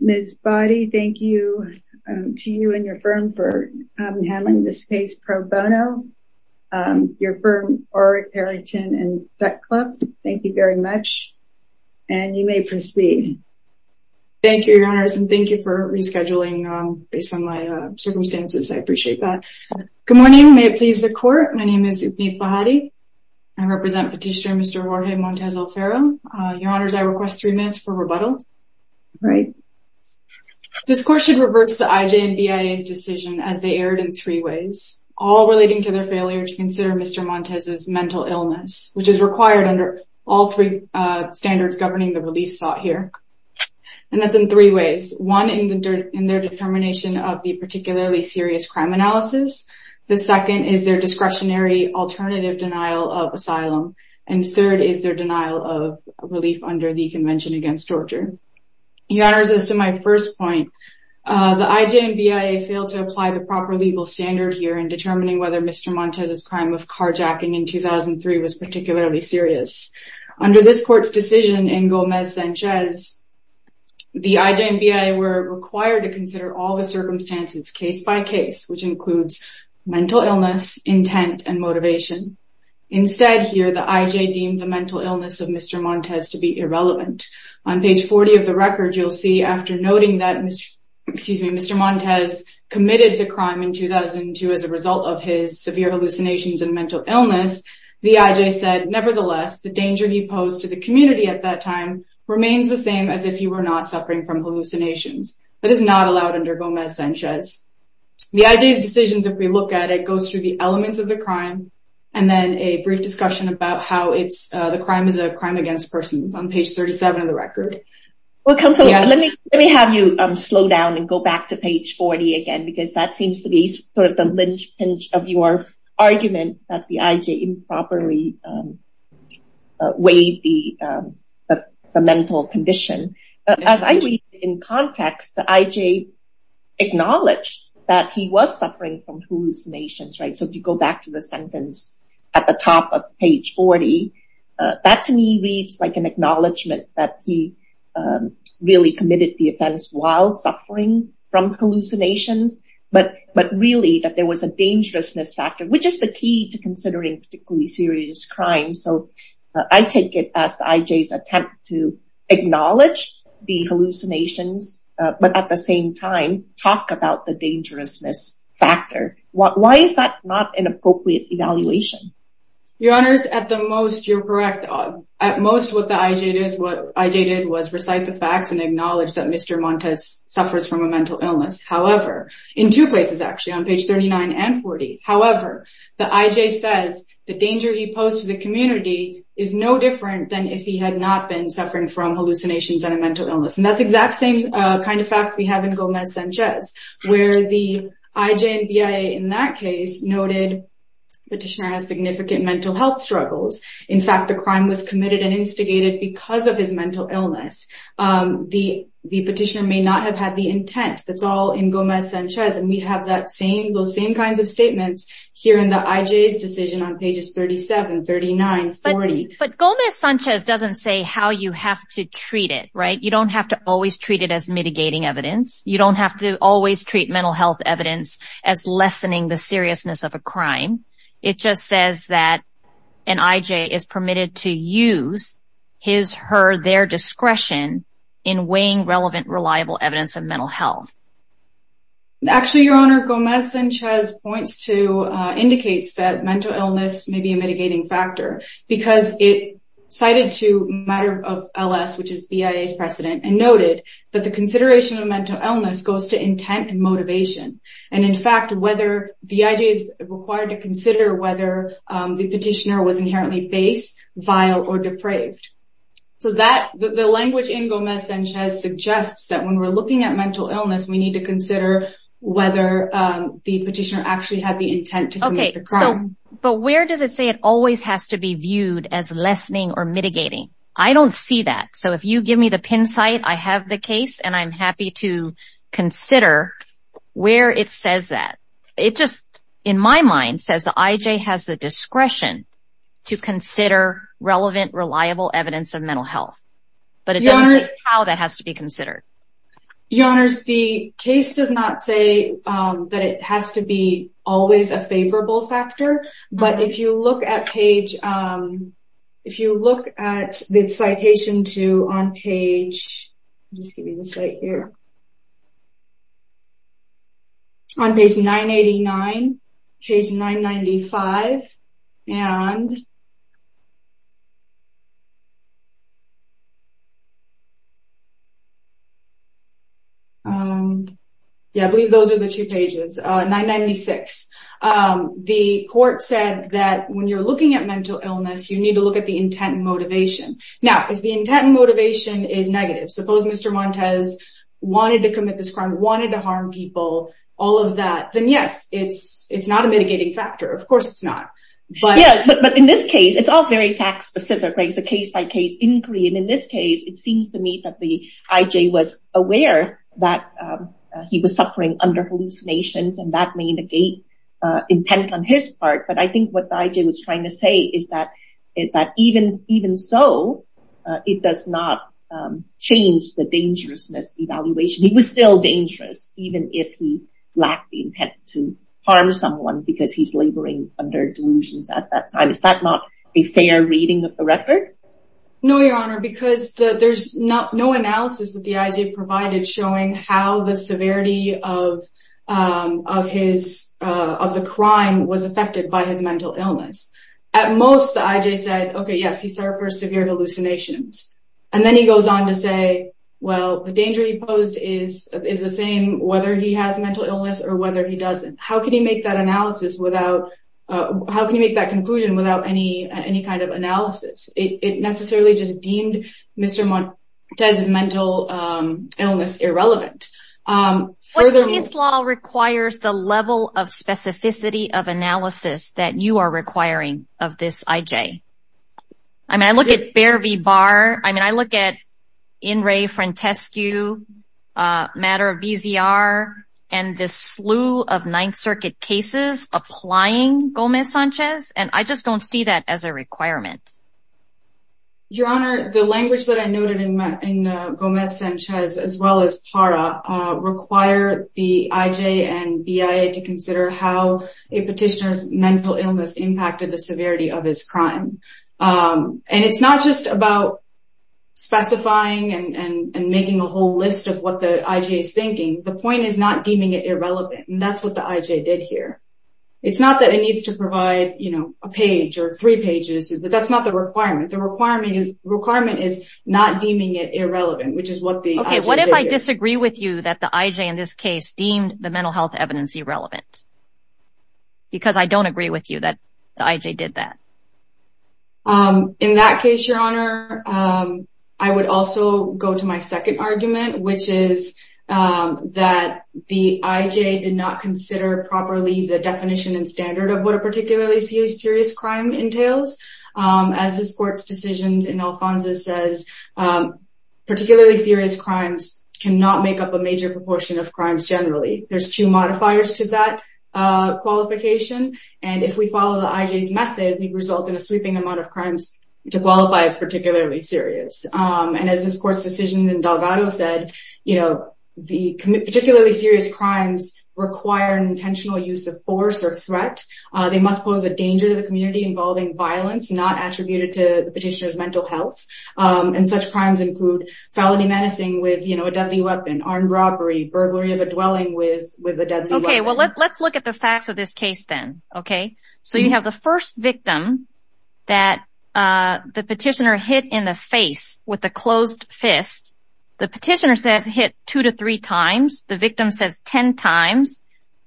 Ms. Bahati, thank you to you and your firm for having this case pro bono. Your firm, Orrick, Harrington, and SecClub, thank you very much, and you may proceed. Thank you, your honors, and thank you for rescheduling based on my circumstances, I appreciate that. Good morning, may it please the court, my name is Ibnid Bahati, I represent Petitioner Mr. Jorge Montes Alfaro, your honors, I request three minutes for rebuttal. This court should reverse the IJ and BIA's decision as they erred in three ways, all relating to their failure to consider Mr. Montes' mental illness, which is required under all three standards governing the relief sought here. And that's in three ways, one in their determination of the particularly serious crime analysis, the second is their discretionary alternative denial of asylum, and third is their denial of relief under the Convention Against Torture. Your honors, as to my first point, the IJ and BIA failed to apply the proper legal standard here in determining whether Mr. Montes' crime of carjacking in 2003 was particularly serious. Under this court's decision in Gomez-Sanchez, the IJ and BIA were required to consider all the circumstances case-by-case, which includes mental illness, intent, and motivation. Instead, here, the IJ deemed the mental illness of Mr. Montes to be irrelevant. On page 40 of the record, you'll see after noting that Mr. Montes committed the crime in 2002 as a result of his severe hallucinations and mental illness, the IJ said, nevertheless, the danger he posed to the community at that time remains the same as if he were not suffering from hallucinations. That is not allowed under Gomez-Sanchez. The IJ's decisions, if we look at it, go through the elements of the crime and then a brief discussion about how the crime is a crime against persons on page 37 of the record. Well, counsel, let me have you slow down and go back to page 40 again, because that seems to be sort of the linchpin of your argument that the IJ improperly weighed the mental condition. As I read in context, the IJ acknowledged that he was suffering from hallucinations, right? So if you go back to the sentence at the top of page 40, that to me reads like an acknowledgement that he really committed the offense while suffering from hallucinations, but really that there was a dangerousness factor, which is the key to considering particularly serious crimes. So I take it as the IJ's attempt to acknowledge the hallucinations, but at the same time, talk about the dangerousness factor. Why is that not an appropriate evaluation? Your honors, at the most, you're correct. At most, what the IJ did was recite the facts and acknowledge that Mr. Montes suffers from a mental illness. However, in two places, actually, on page 39 and 40, however, the IJ says the danger he posed to the community is no different than if he had not been suffering from hallucinations and a mental illness. And that's the exact same kind of fact we have in Gomez-Sanchez, where the IJ and BIA in that case noted the petitioner has significant mental health struggles. In fact, the crime was committed and instigated because of his mental illness. The petitioner may not have had the intent. That's all in Gomez-Sanchez. And we have those same kinds of statements here in the IJ's decision on pages 37, 39, 40. But Gomez-Sanchez doesn't say how you have to treat it, right? You don't have to always treat it as mitigating evidence. You don't have to always treat mental health evidence as lessening the seriousness of a crime. It just says that an IJ is permitted to use his, her, their discretion in weighing relevant, reliable evidence of mental health. Actually, Your Honor, Gomez-Sanchez points to, indicates that mental illness may be a mitigating factor because it cited to matter of LS, which is BIA's precedent, and noted that the consideration of mental illness goes to intent and motivation. And in fact, whether the IJ is required to consider whether the petitioner was inherently base, vile, or depraved. So that, the language in Gomez-Sanchez suggests that when we're looking at mental illness, we need to consider whether the petitioner actually had the intent to commit the crime. But where does it say it always has to be viewed as lessening or mitigating? I don't see that. So if you give me the pin site, I have the case and I'm happy to consider where it says that. It just, in my mind, says the IJ has the discretion to consider relevant, reliable evidence of mental health. But it doesn't say how that has to be considered. Your Honors, the case does not say that it has to be always a favorable factor. But if you look at page, if you look at the citation to, on page, just give me the site here, on page 989, page 995, and yeah, I believe those are the two pages, 996. The court said that when you're looking at mental illness, you need to look at the intent and motivation. Now, if the intent and motivation is negative. Suppose Mr. Montes wanted to commit this crime, wanted to harm people, all of that, then yes, it's not a mitigating factor. Of course, it's not. But in this case, it's all very fact specific, right? It's a case by case inquiry. And in this case, it seems to me that the IJ was aware that he was suffering under hallucinations and that may negate intent on his part. But I think what the IJ was trying to say is that even so, it does not change the dangerousness evaluation. He was still dangerous, even if he lacked the intent to harm someone because he's laboring under delusions at that time. Is that not a fair reading of the record? No, Your Honor, because there's no analysis that the IJ provided showing how the severity of the crime was affected by his mental illness. At most, the IJ said, okay, yes, he suffered severe hallucinations. And then he goes on to say, well, the danger he posed is the same whether he has mental illness or whether he doesn't. How can he make that analysis without, how can you make that conclusion without any kind of analysis? It necessarily just deemed Mr. Montes' mental illness irrelevant. Furthermore... But this law requires the level of specificity of analysis that you are requiring of this IJ. I mean, I look at Bear v. Barr, I mean, I look at In re Frantescu, matter of BZR, and this slew of Ninth Circuit cases applying Gomez-Sanchez, and I just don't see that as a requirement. Your Honor, the language that I noted in Gomez-Sanchez, as well as PARA, require the IJ and BIA to consider how a petitioner's mental illness impacted the severity of his crime. And it's not just about specifying and making a whole list of what the IJ is thinking. The point is not deeming it irrelevant, and that's what the IJ did here. It's not that it needs to provide, you know, a page or three pages, but that's not the requirement. The requirement is not deeming it irrelevant, which is what the IJ did here. Okay, what if I disagree with you that the IJ in this case deemed the mental health evidence irrelevant? Because I don't agree with you that the IJ did that. In that case, Your Honor, I would also go to my second argument, which is that the IJ did not consider properly the definition and standard of what a particularly serious crime entails. As this Court's decision in Alfonso says, particularly serious crimes cannot make up a major proportion of crimes generally. There's two modifiers to that qualification, and if we follow the IJ's method, we'd result in a sweeping amount of crimes to qualify as particularly serious. And as this Court's decision in Delgado said, particularly serious crimes require intentional use of force or threat. They must pose a danger to the community involving violence not attributed to the petitioner's mental health. And such crimes include felony menacing with a deadly weapon, armed robbery, burglary of a dwelling with a deadly weapon. Okay, well, let's look at the facts of this case then, okay? So you have the first victim that the petitioner hit in the face with a closed fist. The petitioner says hit two to three times. The victim says ten times.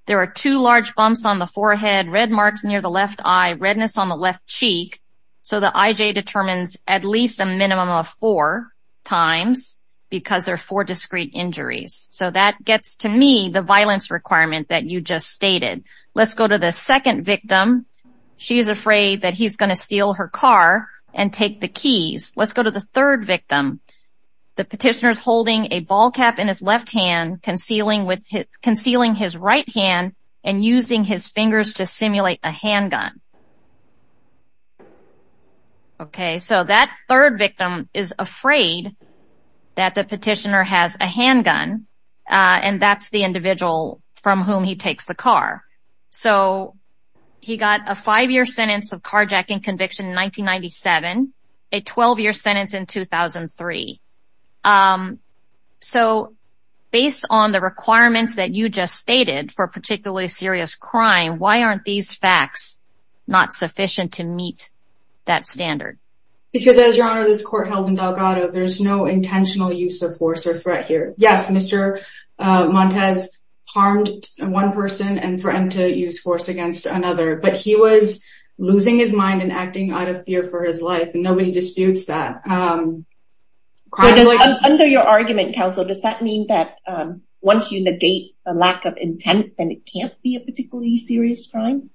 There are two large bumps on the forehead, red marks near the left eye, redness on the left cheek. So the IJ determines at least a minimum of four times because there are four discrete injuries. So that gets to me the violence requirement that you just stated. Let's go to the second victim. She is afraid that he's going to steal her car and take the keys. Let's go to the third victim. The petitioner is holding a ball cap in his left hand, concealing his right hand and using his fingers to simulate a handgun. Okay, so that third victim is afraid that the petitioner has a handgun and that's the So he got a five-year sentence of carjacking conviction in 1997, a 12-year sentence in 2003. So based on the requirements that you just stated for a particularly serious crime, why aren't these facts not sufficient to meet that standard? Because as Your Honor, this court held in Delgado, there's no intentional use of force or threat here. Yes, Mr. Montes harmed one person and threatened to use force against another, but he was losing his mind and acting out of fear for his life. And nobody disputes that. Under your argument, counsel, does that mean that once you negate a lack of intent, then it can't be a particularly serious crime?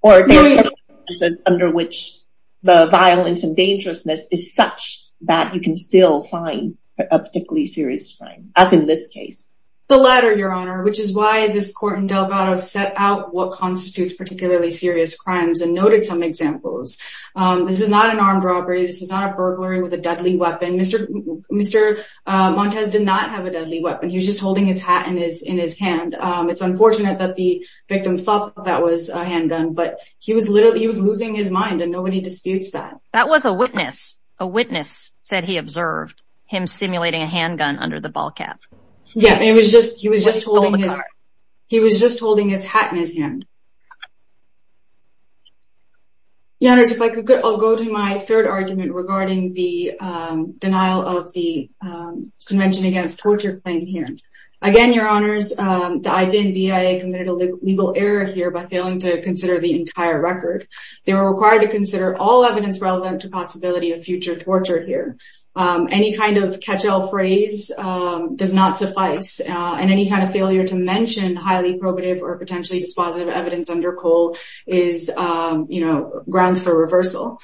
Or are there circumstances under which the violence and dangerousness is such that you can still find a particularly serious crime? As in this case, the latter, Your Honor, which is why this court in Delgado set out what constitutes particularly serious crimes and noted some examples. This is not an armed robbery. This is not a burglary with a deadly weapon. Mr. Mr. Montes did not have a deadly weapon. He was just holding his hat in his in his hand. It's unfortunate that the victim thought that was a handgun, but he was literally he was losing his mind and nobody disputes that. That was a witness. A witness said he observed him simulating a handgun under the ball cap. Yeah, he was just he was just holding his he was just holding his hat in his hand. Your Honor, if I could, I'll go to my third argument regarding the denial of the Convention Against Torture claim here. Again, Your Honors, the IBN-BIA committed a legal error here by failing to consider the entire record. They were required to consider all evidence relevant to possibility of future torture here. Any kind of catch all phrase does not suffice. And any kind of failure to mention highly probative or potentially dispositive evidence under COLE is, you know, grounds for reversal.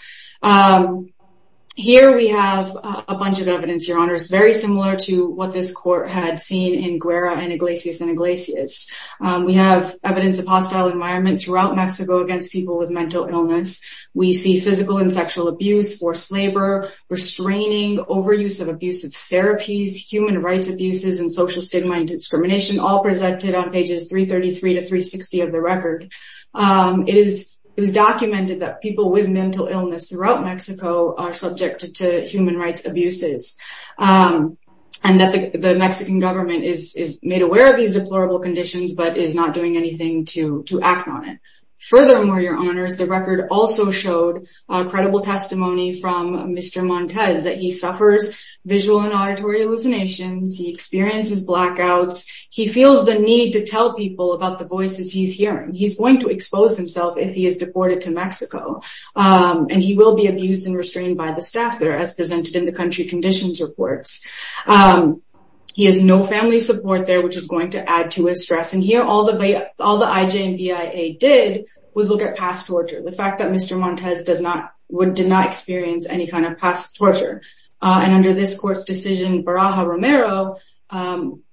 Here we have a bunch of evidence, Your Honors, very similar to what this court had seen in Guerra and Iglesias and Iglesias. We have evidence of hostile environment throughout Mexico against people with mental illness. We see physical and sexual abuse, forced labor, restraining, overuse of abusive therapies, human rights abuses and social stigma and discrimination all presented on pages 333 to 360 of the record. It is it was documented that people with mental illness throughout Mexico are subject to human rights abuses and that the Mexican government is made aware of these deplorable conditions, but is not doing anything to to act on it. Furthermore, Your Honors, the record also showed credible testimony from Mr. Montes that he suffers visual and auditory hallucinations. He experiences blackouts. He feels the need to tell people about the voices he's hearing. He's going to expose himself if he is deported to Mexico and he will be abused and restrained by the staff there, as presented in the country conditions reports. He has no family support there, which is going to add to his stress. And here, all the all the IJ and BIA did was look at past torture. The fact that Mr. Montes does not would deny experience any kind of past torture. And under this court's decision, Baraja Romero,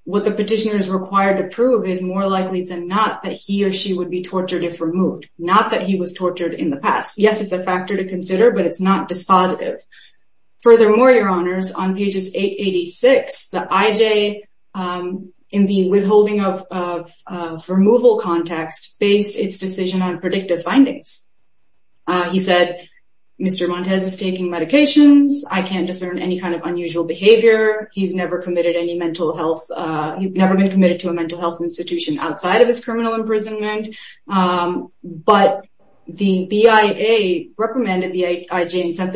what the petitioner is required to prove is more likely than not that he or she would be tortured if removed, not that he was tortured in the past. Yes, it's a factor to consider, but it's not dispositive. Furthermore, Your Honors, on pages 886, the IJ in the withholding of removal context based its decision on predictive findings. He said, Mr. Montes is taking medications. I can't discern any kind of unusual behavior. He's never committed any mental health. He's never been committed to a mental health institution outside of his criminal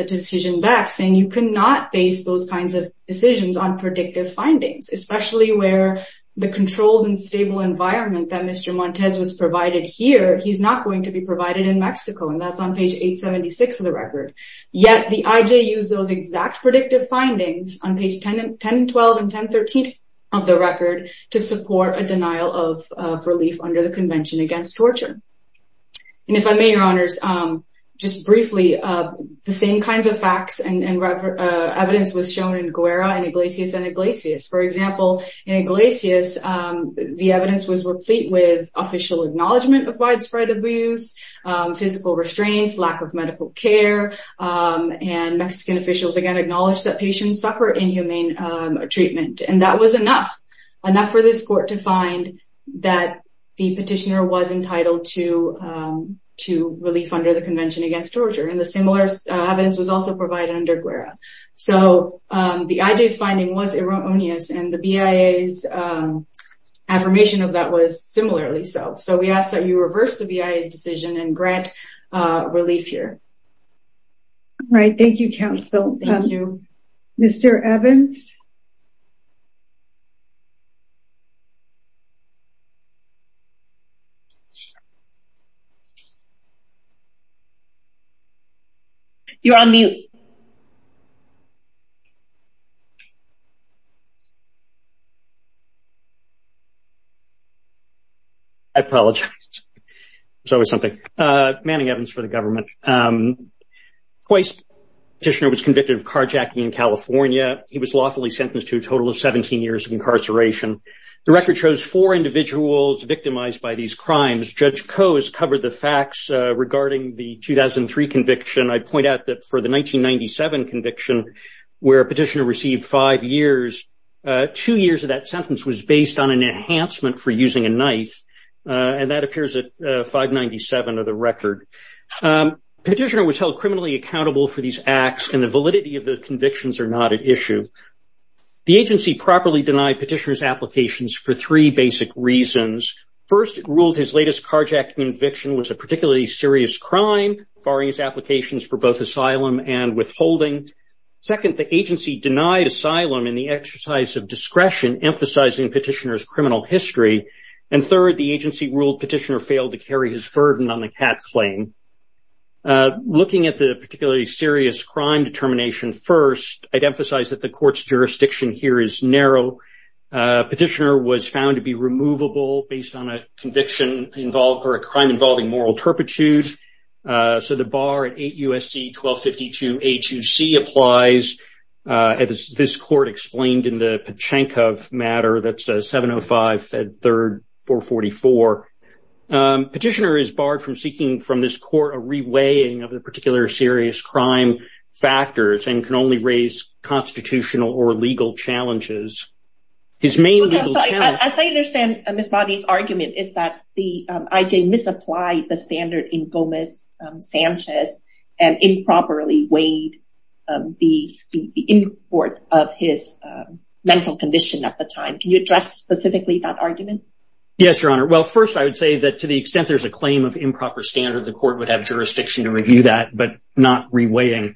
decision back saying you cannot base those kinds of decisions on predictive findings, especially where the controlled and stable environment that Mr. Montes was provided here, he's not going to be provided in Mexico. And that's on page 876 of the record. Yet the IJ used those exact predictive findings on page 10, 10, 12 and 10, 13 of the record to support a denial of relief under the Convention Against Torture. And if I may, Your Honors, just briefly, the same kinds of facts and evidence was shown in Guerra and Iglesias and Iglesias. For example, in Iglesias, the evidence was replete with official acknowledgment of widespread abuse, physical restraints, lack of medical care. And Mexican officials, again, acknowledged that patients suffer inhumane treatment. And that was enough, enough for this court to find that the petitioner was entitled to relief under the Convention Against Torture. And the similar evidence was also provided under Guerra. So the IJ's finding was erroneous and the BIA's affirmation of that was similarly so. So we ask that you reverse the BIA's decision and grant relief here. All right. Thank you, counsel. Thank you. Mr. Evans. You're on mute. I apologize. There's always something. Manning Evans for the government. Twice, a petitioner was convicted of carjacking in California. He was lawfully sentenced to a total of 17 years of incarceration. The record shows four individuals victimized by these crimes. Judge Coe has covered the facts regarding the 2003 conviction. I point out that for the 1997 conviction, where a petitioner received five years, two years of that sentence was based on an enhancement for using a knife. And that appears at 597 of the record. Petitioner was held criminally accountable for these acts, and the validity of the convictions are not at issue. The agency properly denied petitioner's applications for three basic reasons. First, it ruled his latest carjacking conviction was a particularly serious crime, barring his applications for both asylum and withholding. Second, the agency denied asylum in the exercise of discretion, emphasizing petitioner's criminal history. And third, the agency ruled petitioner failed to carry his burden on the CAT claim. Looking at the particularly serious crime determination, first, I'd emphasize that the court's jurisdiction here is narrow. Petitioner was found to be removable based on a conviction involved or a crime involving moral turpitude. So the bar at 8 U.S.C. 1252 A2C applies, as this court explained in the Pachankov matter. That's a 705 at 3rd 444. Petitioner is barred from seeking from this court a reweighing of the particular serious crime factors and can only raise constitutional or legal challenges. His main legal challenge... As I understand Ms. Bobby's argument is that the IJ misapplied the standard in Gomez-Sanchez and improperly weighed the import of his mental condition at the time. Can you address specifically that argument? Yes, Your Honor. Well, first, I would say that to the extent there's a claim of improper standard, the court would have jurisdiction to review that, but not reweighing.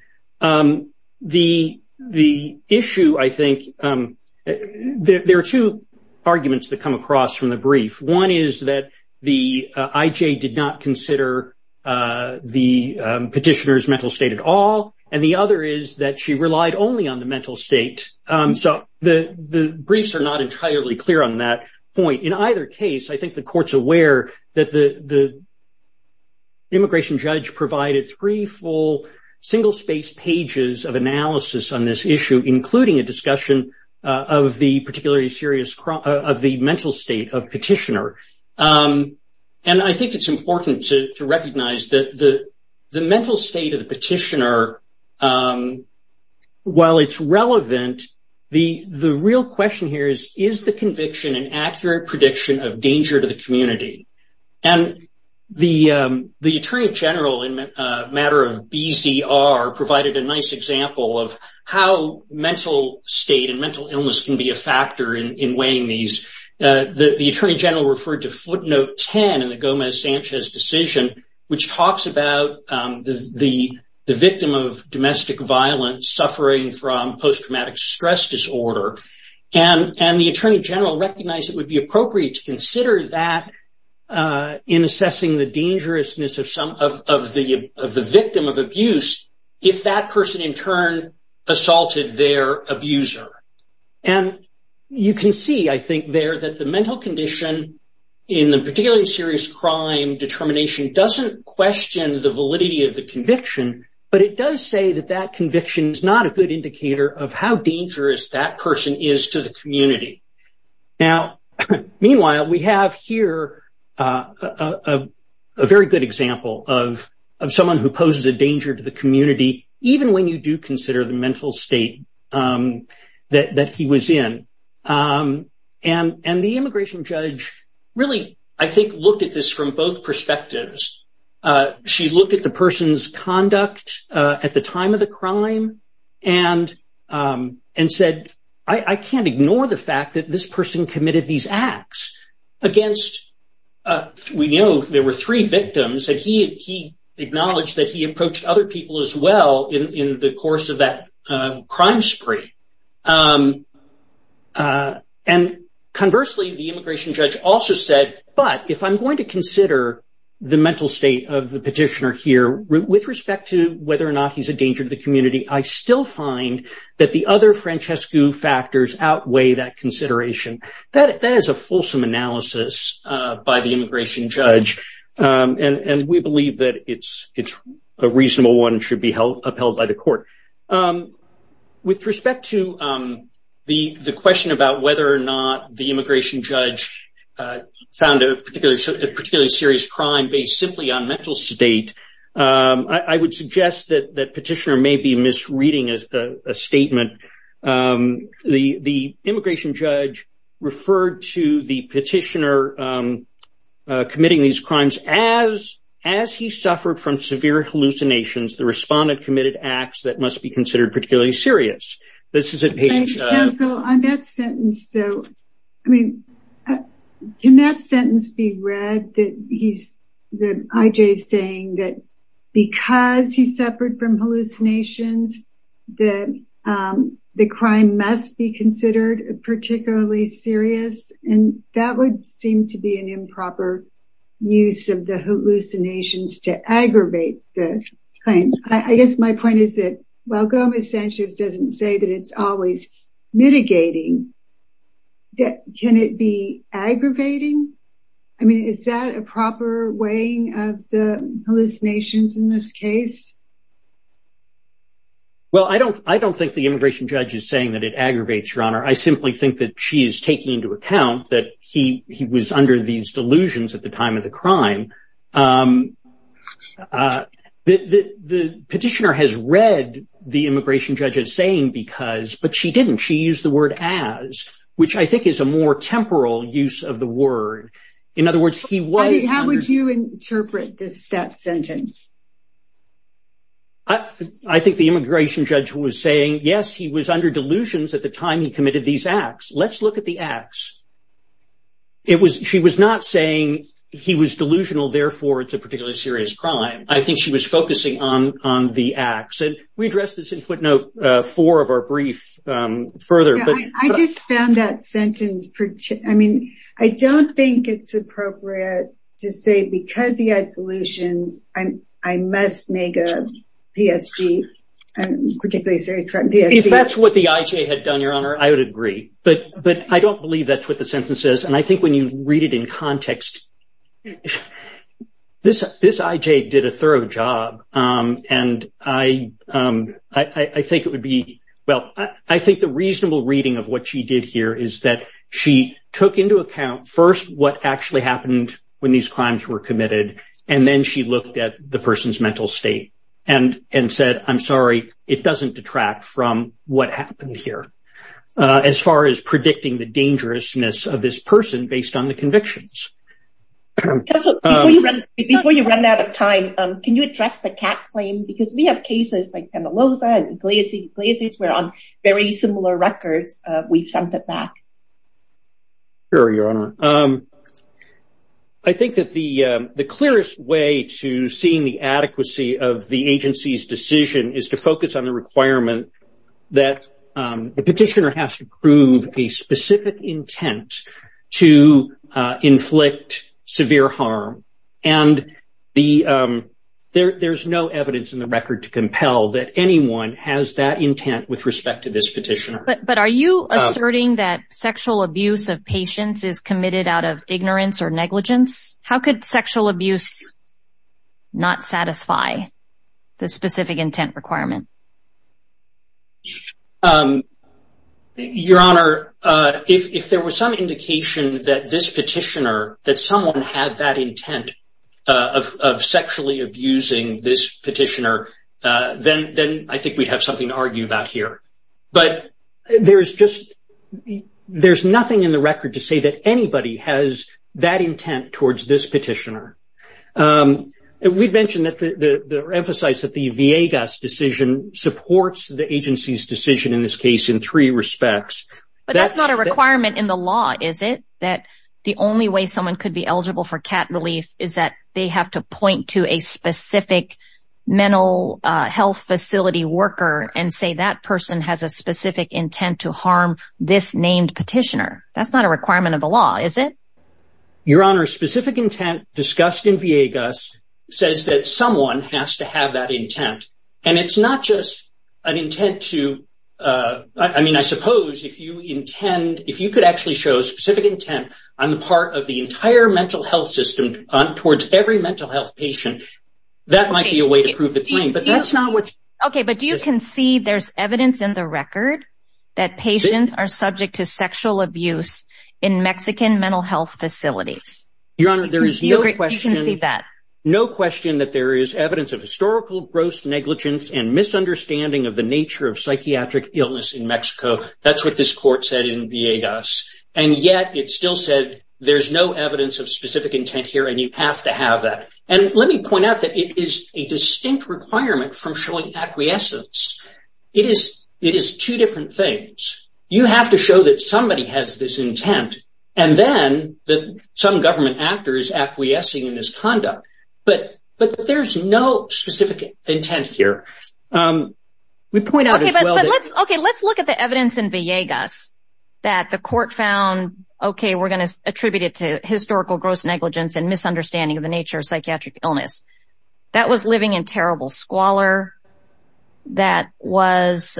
The issue, I think, there are two arguments that come across from the brief. One is that the IJ did not consider the petitioner's mental state at all. And the other is that she relied only on the mental state. So the briefs are not entirely clear on that point. In either case, I think the court's aware that the immigration judge provided three full single-spaced pages of analysis on this issue, including a discussion of the particularly serious of the mental state of petitioner. And I think it's important to recognize that the mental state of the petitioner, while it's relevant, the real question here is, is the conviction an accurate prediction of danger to the community? And the attorney general, in a matter of BZR, provided a nice example of how mental state and mental illness can be a factor in weighing these. The attorney general referred to footnote 10 in the Gomez-Sanchez decision, which talks about the victim of domestic violence suffering from post-traumatic stress disorder. And the attorney general recognized it would be appropriate to consider that in assessing the dangerousness of the victim of abuse if that person in turn assaulted their abuser. And you can see, I think, there that the mental condition in the particularly serious crime determination doesn't question the validity of the conviction, but it does say that that conviction is not a good indicator of how dangerous that person is to the community. Now, meanwhile, we have here a very good example of someone who poses a danger to the community, even when you do consider the mental state that he was in. And the immigration judge really, I think, looked at this from both perspectives. She looked at the person's conduct at the time of the crime and and said, I can't ignore the fact that this person committed these acts against, we know there were three victims that he acknowledged that he approached other people as well in the course of that crime spree. And conversely, the immigration judge also said, but if I'm going to consider the mental state of the petitioner here, with respect to whether or not he's a danger to the community, I still find that the other Francesco factors outweigh that consideration. That is a fulsome analysis by the immigration judge. And we believe that it's a reasonable one should be upheld by the court. With respect to the question about whether or not the immigration judge found a particularly serious crime based simply on mental state, I would suggest that that petitioner may be misreading a statement. The immigration judge referred to the petitioner committing these crimes as as he suffered from severe hallucinations, the respondent committed acts that must be considered particularly serious. This is a page. So on that sentence, though, I mean, can that sentence be read that he's the IJ saying that because he suffered from hallucinations, that the crime must be considered particularly serious? And that would seem to be an improper use of the hallucinations to aggravate the claim. I guess my point is that while Gomez-Sanchez doesn't say that it's always mitigating, can it be aggravating? I mean, is that a proper weighing of the hallucinations in this case? Well, I don't I don't think the immigration judge is saying that it aggravates your honor. I simply think that she is taking into account that he was under these delusions at the time of the crime. The petitioner has read the immigration judge as saying because, but she didn't. She used the word as, which I think is a more temporal use of the word. In other words, he was. How would you interpret this sentence? I think the immigration judge was saying, yes, he was under delusions at the time he committed these acts. Let's look at the acts. It was she was not saying he was delusional, therefore it's a particularly serious crime. I think she was focusing on on the acts. And we addressed this in footnote four of our brief further. I just found that sentence. I mean, I don't think it's appropriate to say because he had solutions, I must make a PSG, particularly serious crime PSG. If that's what the IJ had done, your honor, I would agree. But but I don't believe that's what the sentence is. And I think when you read it in context, this this IJ did a thorough job. And I, I think it would be well, I think the reasonable reading of what she did here is that she took into account first what actually happened when these crimes were committed. And then she looked at the person's mental state and and said, I'm sorry, it doesn't detract from what happened here. As far as predicting the dangerousness of this person based on the convictions. Before you run out of time, can you address the CAC claim? Because we have cases like Penaloza and Iglesias where on very similar records, we've sent it back. Here, your honor. I think that the the clearest way to seeing the adequacy of the agency's decision is to the petitioner has to prove a specific intent to inflict severe harm and the there's no evidence in the record to compel that anyone has that intent with respect to this petition. But are you asserting that sexual abuse of patients is committed out of ignorance or negligence? How could sexual abuse not satisfy the specific intent requirement? Your honor, if there was some indication that this petitioner, that someone had that intent of sexually abusing this petitioner, then then I think we'd have something to argue about here. But there is just there's nothing in the record to say that anybody has that intent towards this petitioner. We've mentioned that the emphasize that the Viegas decision supports the agency's decision in this case in three respects. But that's not a requirement in the law, is it? That the only way someone could be eligible for cat relief is that they have to point to a specific mental health facility worker and say that person has a specific intent to harm this named petitioner. That's not a requirement of the law, is it? Your honor, specific intent discussed in Viegas says that someone has to have that intent. And it's not just an intent to I mean, I suppose if you intend if you could actually show specific intent on the part of the entire mental health system towards every mental health patient, that might be a way to prove the claim. But that's not what. OK, but you can see there's evidence in the record that patients are subject to sexual abuse in Mexican mental health facilities. Your honor, there is no question that no question that there is evidence of historical gross negligence and misunderstanding of the nature of psychiatric illness in Mexico. That's what this court said in Viegas. And yet it still said there's no evidence of specific intent here and you have to have that. And let me point out that it is a distinct requirement from showing acquiescence. It is it is two different things. You have to show that somebody has this intent and then that some government actor is acquiescing in this conduct. But but there's no specific intent here. We point out. OK, let's look at the evidence in Viegas that the court found, OK, we're going to attribute it to historical gross negligence and misunderstanding of the nature of psychiatric illness. That was living in terrible squalor. That was.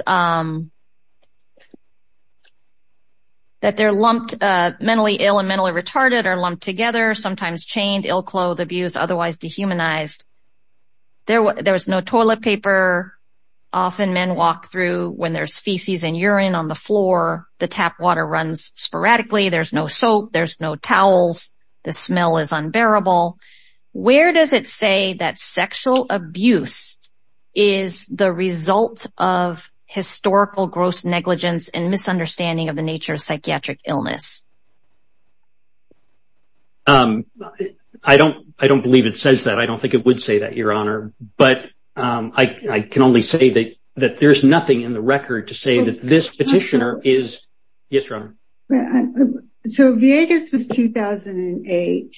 That they're lumped mentally ill and mentally retarded or lumped together, sometimes chained, ill-clothed, abused, otherwise dehumanized. There was no toilet paper. Often men walk through when there's feces and urine on the floor, the tap water runs sporadically, there's no soap, there's no towels, the smell is unbearable. Where does it say that sexual abuse is the result of historical gross negligence and misunderstanding of the nature of psychiatric illness? I don't I don't believe it says that I don't think it would say that, Your Honor, but I can only say that that there's nothing in the record to say that this petitioner is. Yes, Your Honor. So, Viegas was 2008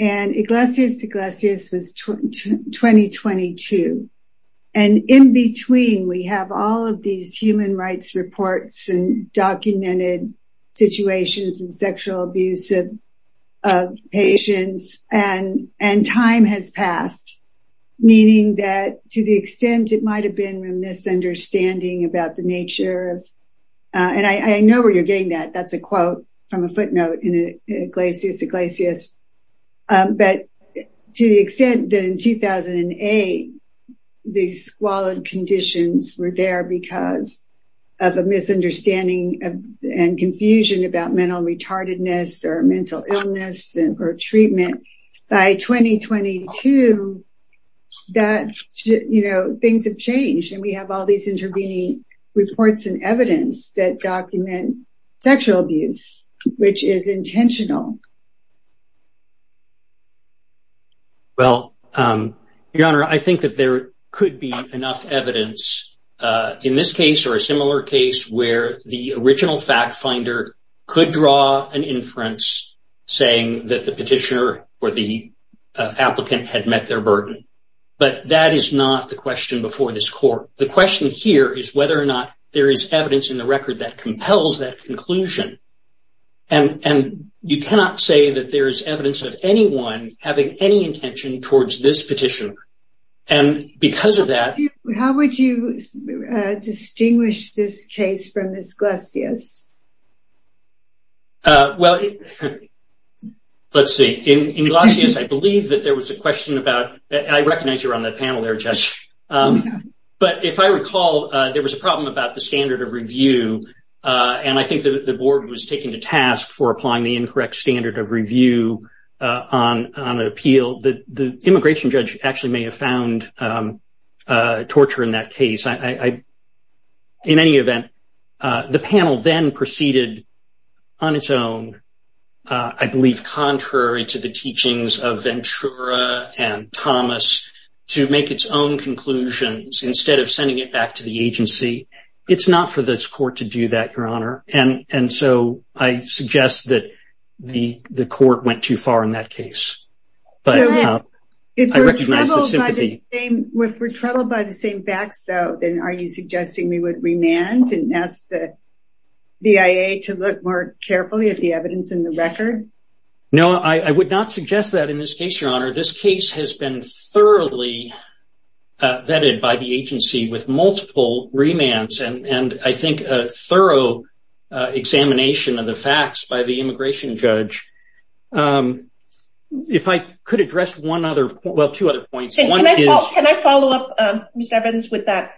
and Iglesias Iglesias was 2022 and in between we have all of these human rights reports and documented situations and sexual abuse of patients and and time has passed, meaning that to the extent it might have been a misunderstanding about the nature of and I know where you're getting that. That's a quote from a footnote in Iglesias Iglesias. But to the extent that in 2008, the squalid conditions were there because of a misunderstanding and confusion about mental retardedness or mental illness or treatment. By 2022, things have changed and we have all these intervening reports and evidence that document sexual abuse, which is intentional. Well, Your Honor, I think that there could be enough evidence in this case or a similar case where the original fact finder could draw an inference saying that the petitioner or the applicant had met their burden. But that is not the question before this court. The question here is whether or not there is evidence in the record that compels that evidence of anyone having any intention towards this petition. And because of that, how would you distinguish this case from this Iglesias? Well, let's see. In Iglesias, I believe that there was a question about I recognize you're on the panel there, Judge. But if I recall, there was a problem about the standard of review. And I think the board was taken to task for applying the incorrect standard of review on an appeal that the immigration judge actually may have found torture in that case. In any event, the panel then proceeded on its own, I believe contrary to the teachings of Ventura and Thomas, to make its own conclusions instead of sending it back to the agency. It's not for this court to do that, Your Honor. And so I suggest that the court went too far in that case. But if we're troubled by the same facts, though, then are you suggesting we would remand and ask the BIA to look more carefully at the evidence in the record? No, I would not suggest that in this case, Your Honor. This case has been thoroughly vetted by the agency with multiple remands. And I think a thorough examination of the facts by the immigration judge. If I could address one other, well, two other points. Can I follow up, Mr. Evans, with that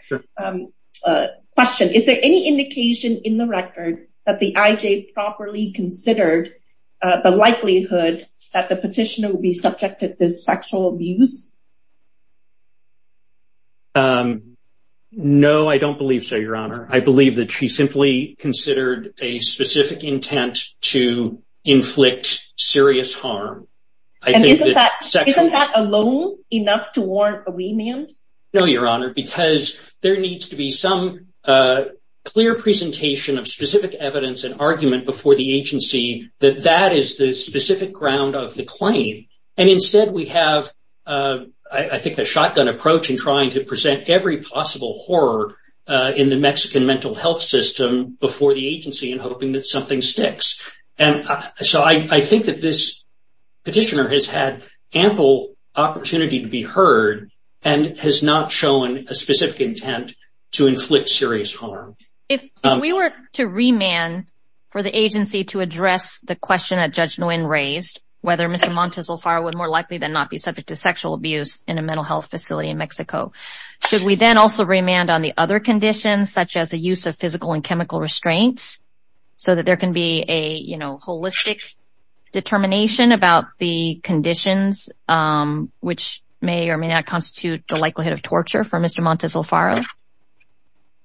question? Is there any indication in the record that the IJ properly considered the likelihood that the petitioner will be subjected to sexual abuse? No, I don't believe so, Your Honor. I believe that she simply considered a specific intent to inflict serious harm. And isn't that alone enough to warrant a remand? No, Your Honor, because there needs to be some clear presentation of specific evidence and argument before the agency that that is the specific ground of the claim. And instead, we have, I think, a shotgun approach in trying to present every possible horror in the Mexican mental health system before the agency in hoping that something sticks. And so I think that this petitioner has had ample opportunity to be heard and has not shown a specific intent to inflict serious harm. If we were to remand for the agency to address the question that Judge Nguyen raised, whether Mr. Montes Alfaro would more likely than not be subject to sexual abuse in a mental health facility in Mexico, should we then also remand on the other conditions such as the use of physical and chemical restraints so that there can be a holistic determination about the conditions which may or may not constitute the likelihood of torture for Mr. Montes Alfaro?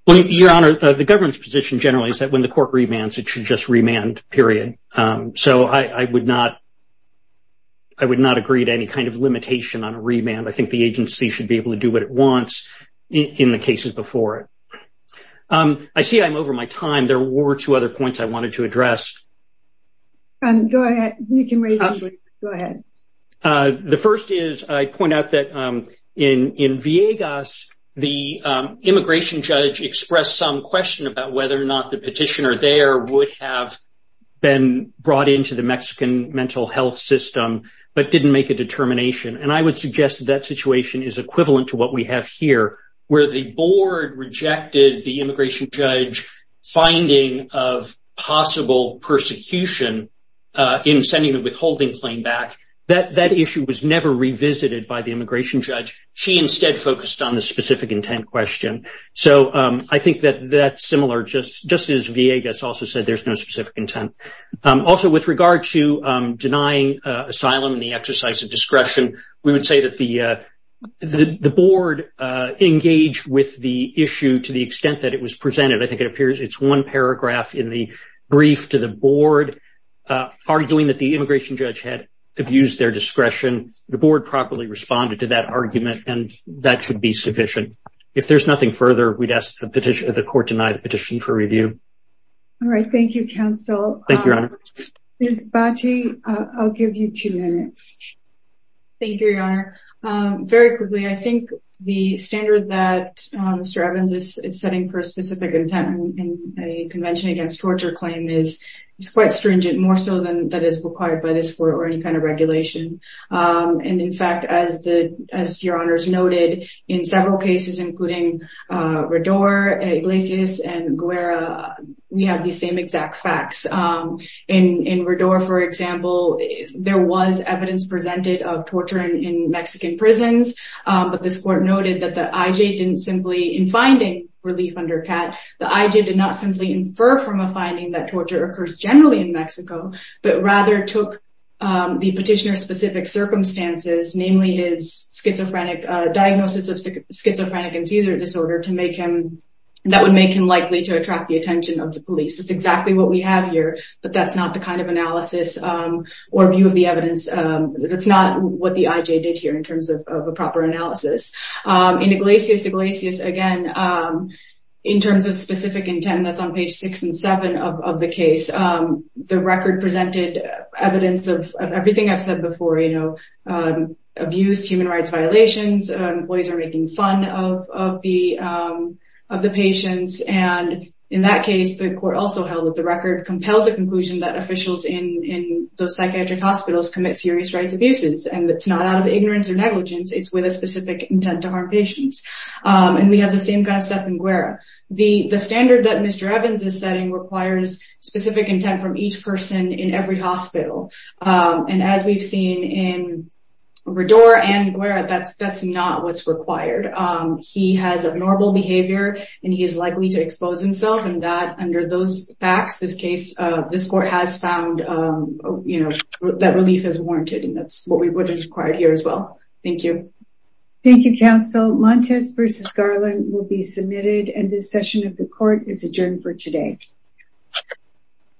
Your Honor, the government's position generally is that when the court remands, it should just remand, period. So I would not, I would not agree to any kind of limitation on a remand. I think the agency should be able to do what it wants in the cases before it. I see I'm over my time. There were two other points I wanted to address. Go ahead. You can raise them, but go ahead. The first is, I point out that in Viegas, the immigration judge expressed some question about whether or not the petitioner there would have been brought into the Mexican mental health system, but didn't make a determination. And I would suggest that that situation is equivalent to what we have here, where the board rejected the immigration judge's finding of possible persecution in sending the withholding claim back. That issue was never revisited by the immigration judge. She instead focused on the specific intent question. So I think that that's similar, just as Viegas also said, there's no specific intent. Also, with regard to denying asylum and the exercise of discretion, we would say that the board engaged with the issue to the extent that it was presented. I think it appears it's one paragraph in the brief to the board, arguing that the immigration judge had abused their discretion. The board properly responded to that argument, and that should be sufficient. If there's nothing further, we'd ask that the court deny the petition for review. All right. Thank you, counsel. Thank you, Your Honor. Ms. Baggi, I'll give you two minutes. Thank you, Your Honor. Very quickly, I think the standard that Mr. Evans is setting for a specific intent in a convention against torture claim is quite stringent, more so than that is required by this court or any kind of regulation. And in fact, as Your Honors noted, in several cases, including Rador, Iglesias, and Guerra, we have the same exact facts. In Rador, for example, there was evidence presented of torture in Mexican prisons, but this court noted that the IJ didn't simply, in finding relief under CAT, the IJ did not simply infer from a finding that torture occurs generally in Mexico, but rather took the circumstances, namely his diagnosis of schizophrenic and seizure disorder, that would make him likely to attract the attention of the police. That's exactly what we have here, but that's not the kind of analysis or view of the evidence. That's not what the IJ did here in terms of a proper analysis. In Iglesias, again, in terms of specific intent, that's on page six and seven of the record presented evidence of everything I've said before, you know, abuse, human rights violations, employees are making fun of the of the patients. And in that case, the court also held that the record compels the conclusion that officials in those psychiatric hospitals commit serious rights abuses. And it's not out of ignorance or negligence, it's with a specific intent to harm patients. And we have the same kind of stuff in Guerra. The standard that Mr. Evans is setting requires specific intent from each person in every hospital. And as we've seen in Rador and Guerra, that's not what's required. He has abnormal behavior and he is likely to expose himself. And that under those facts, this case, this court has found, you know, that relief is warranted. And that's what is required here as well. Thank you. Thank you, counsel. Montes versus Garland will be submitted and this session of the court is adjourned for today.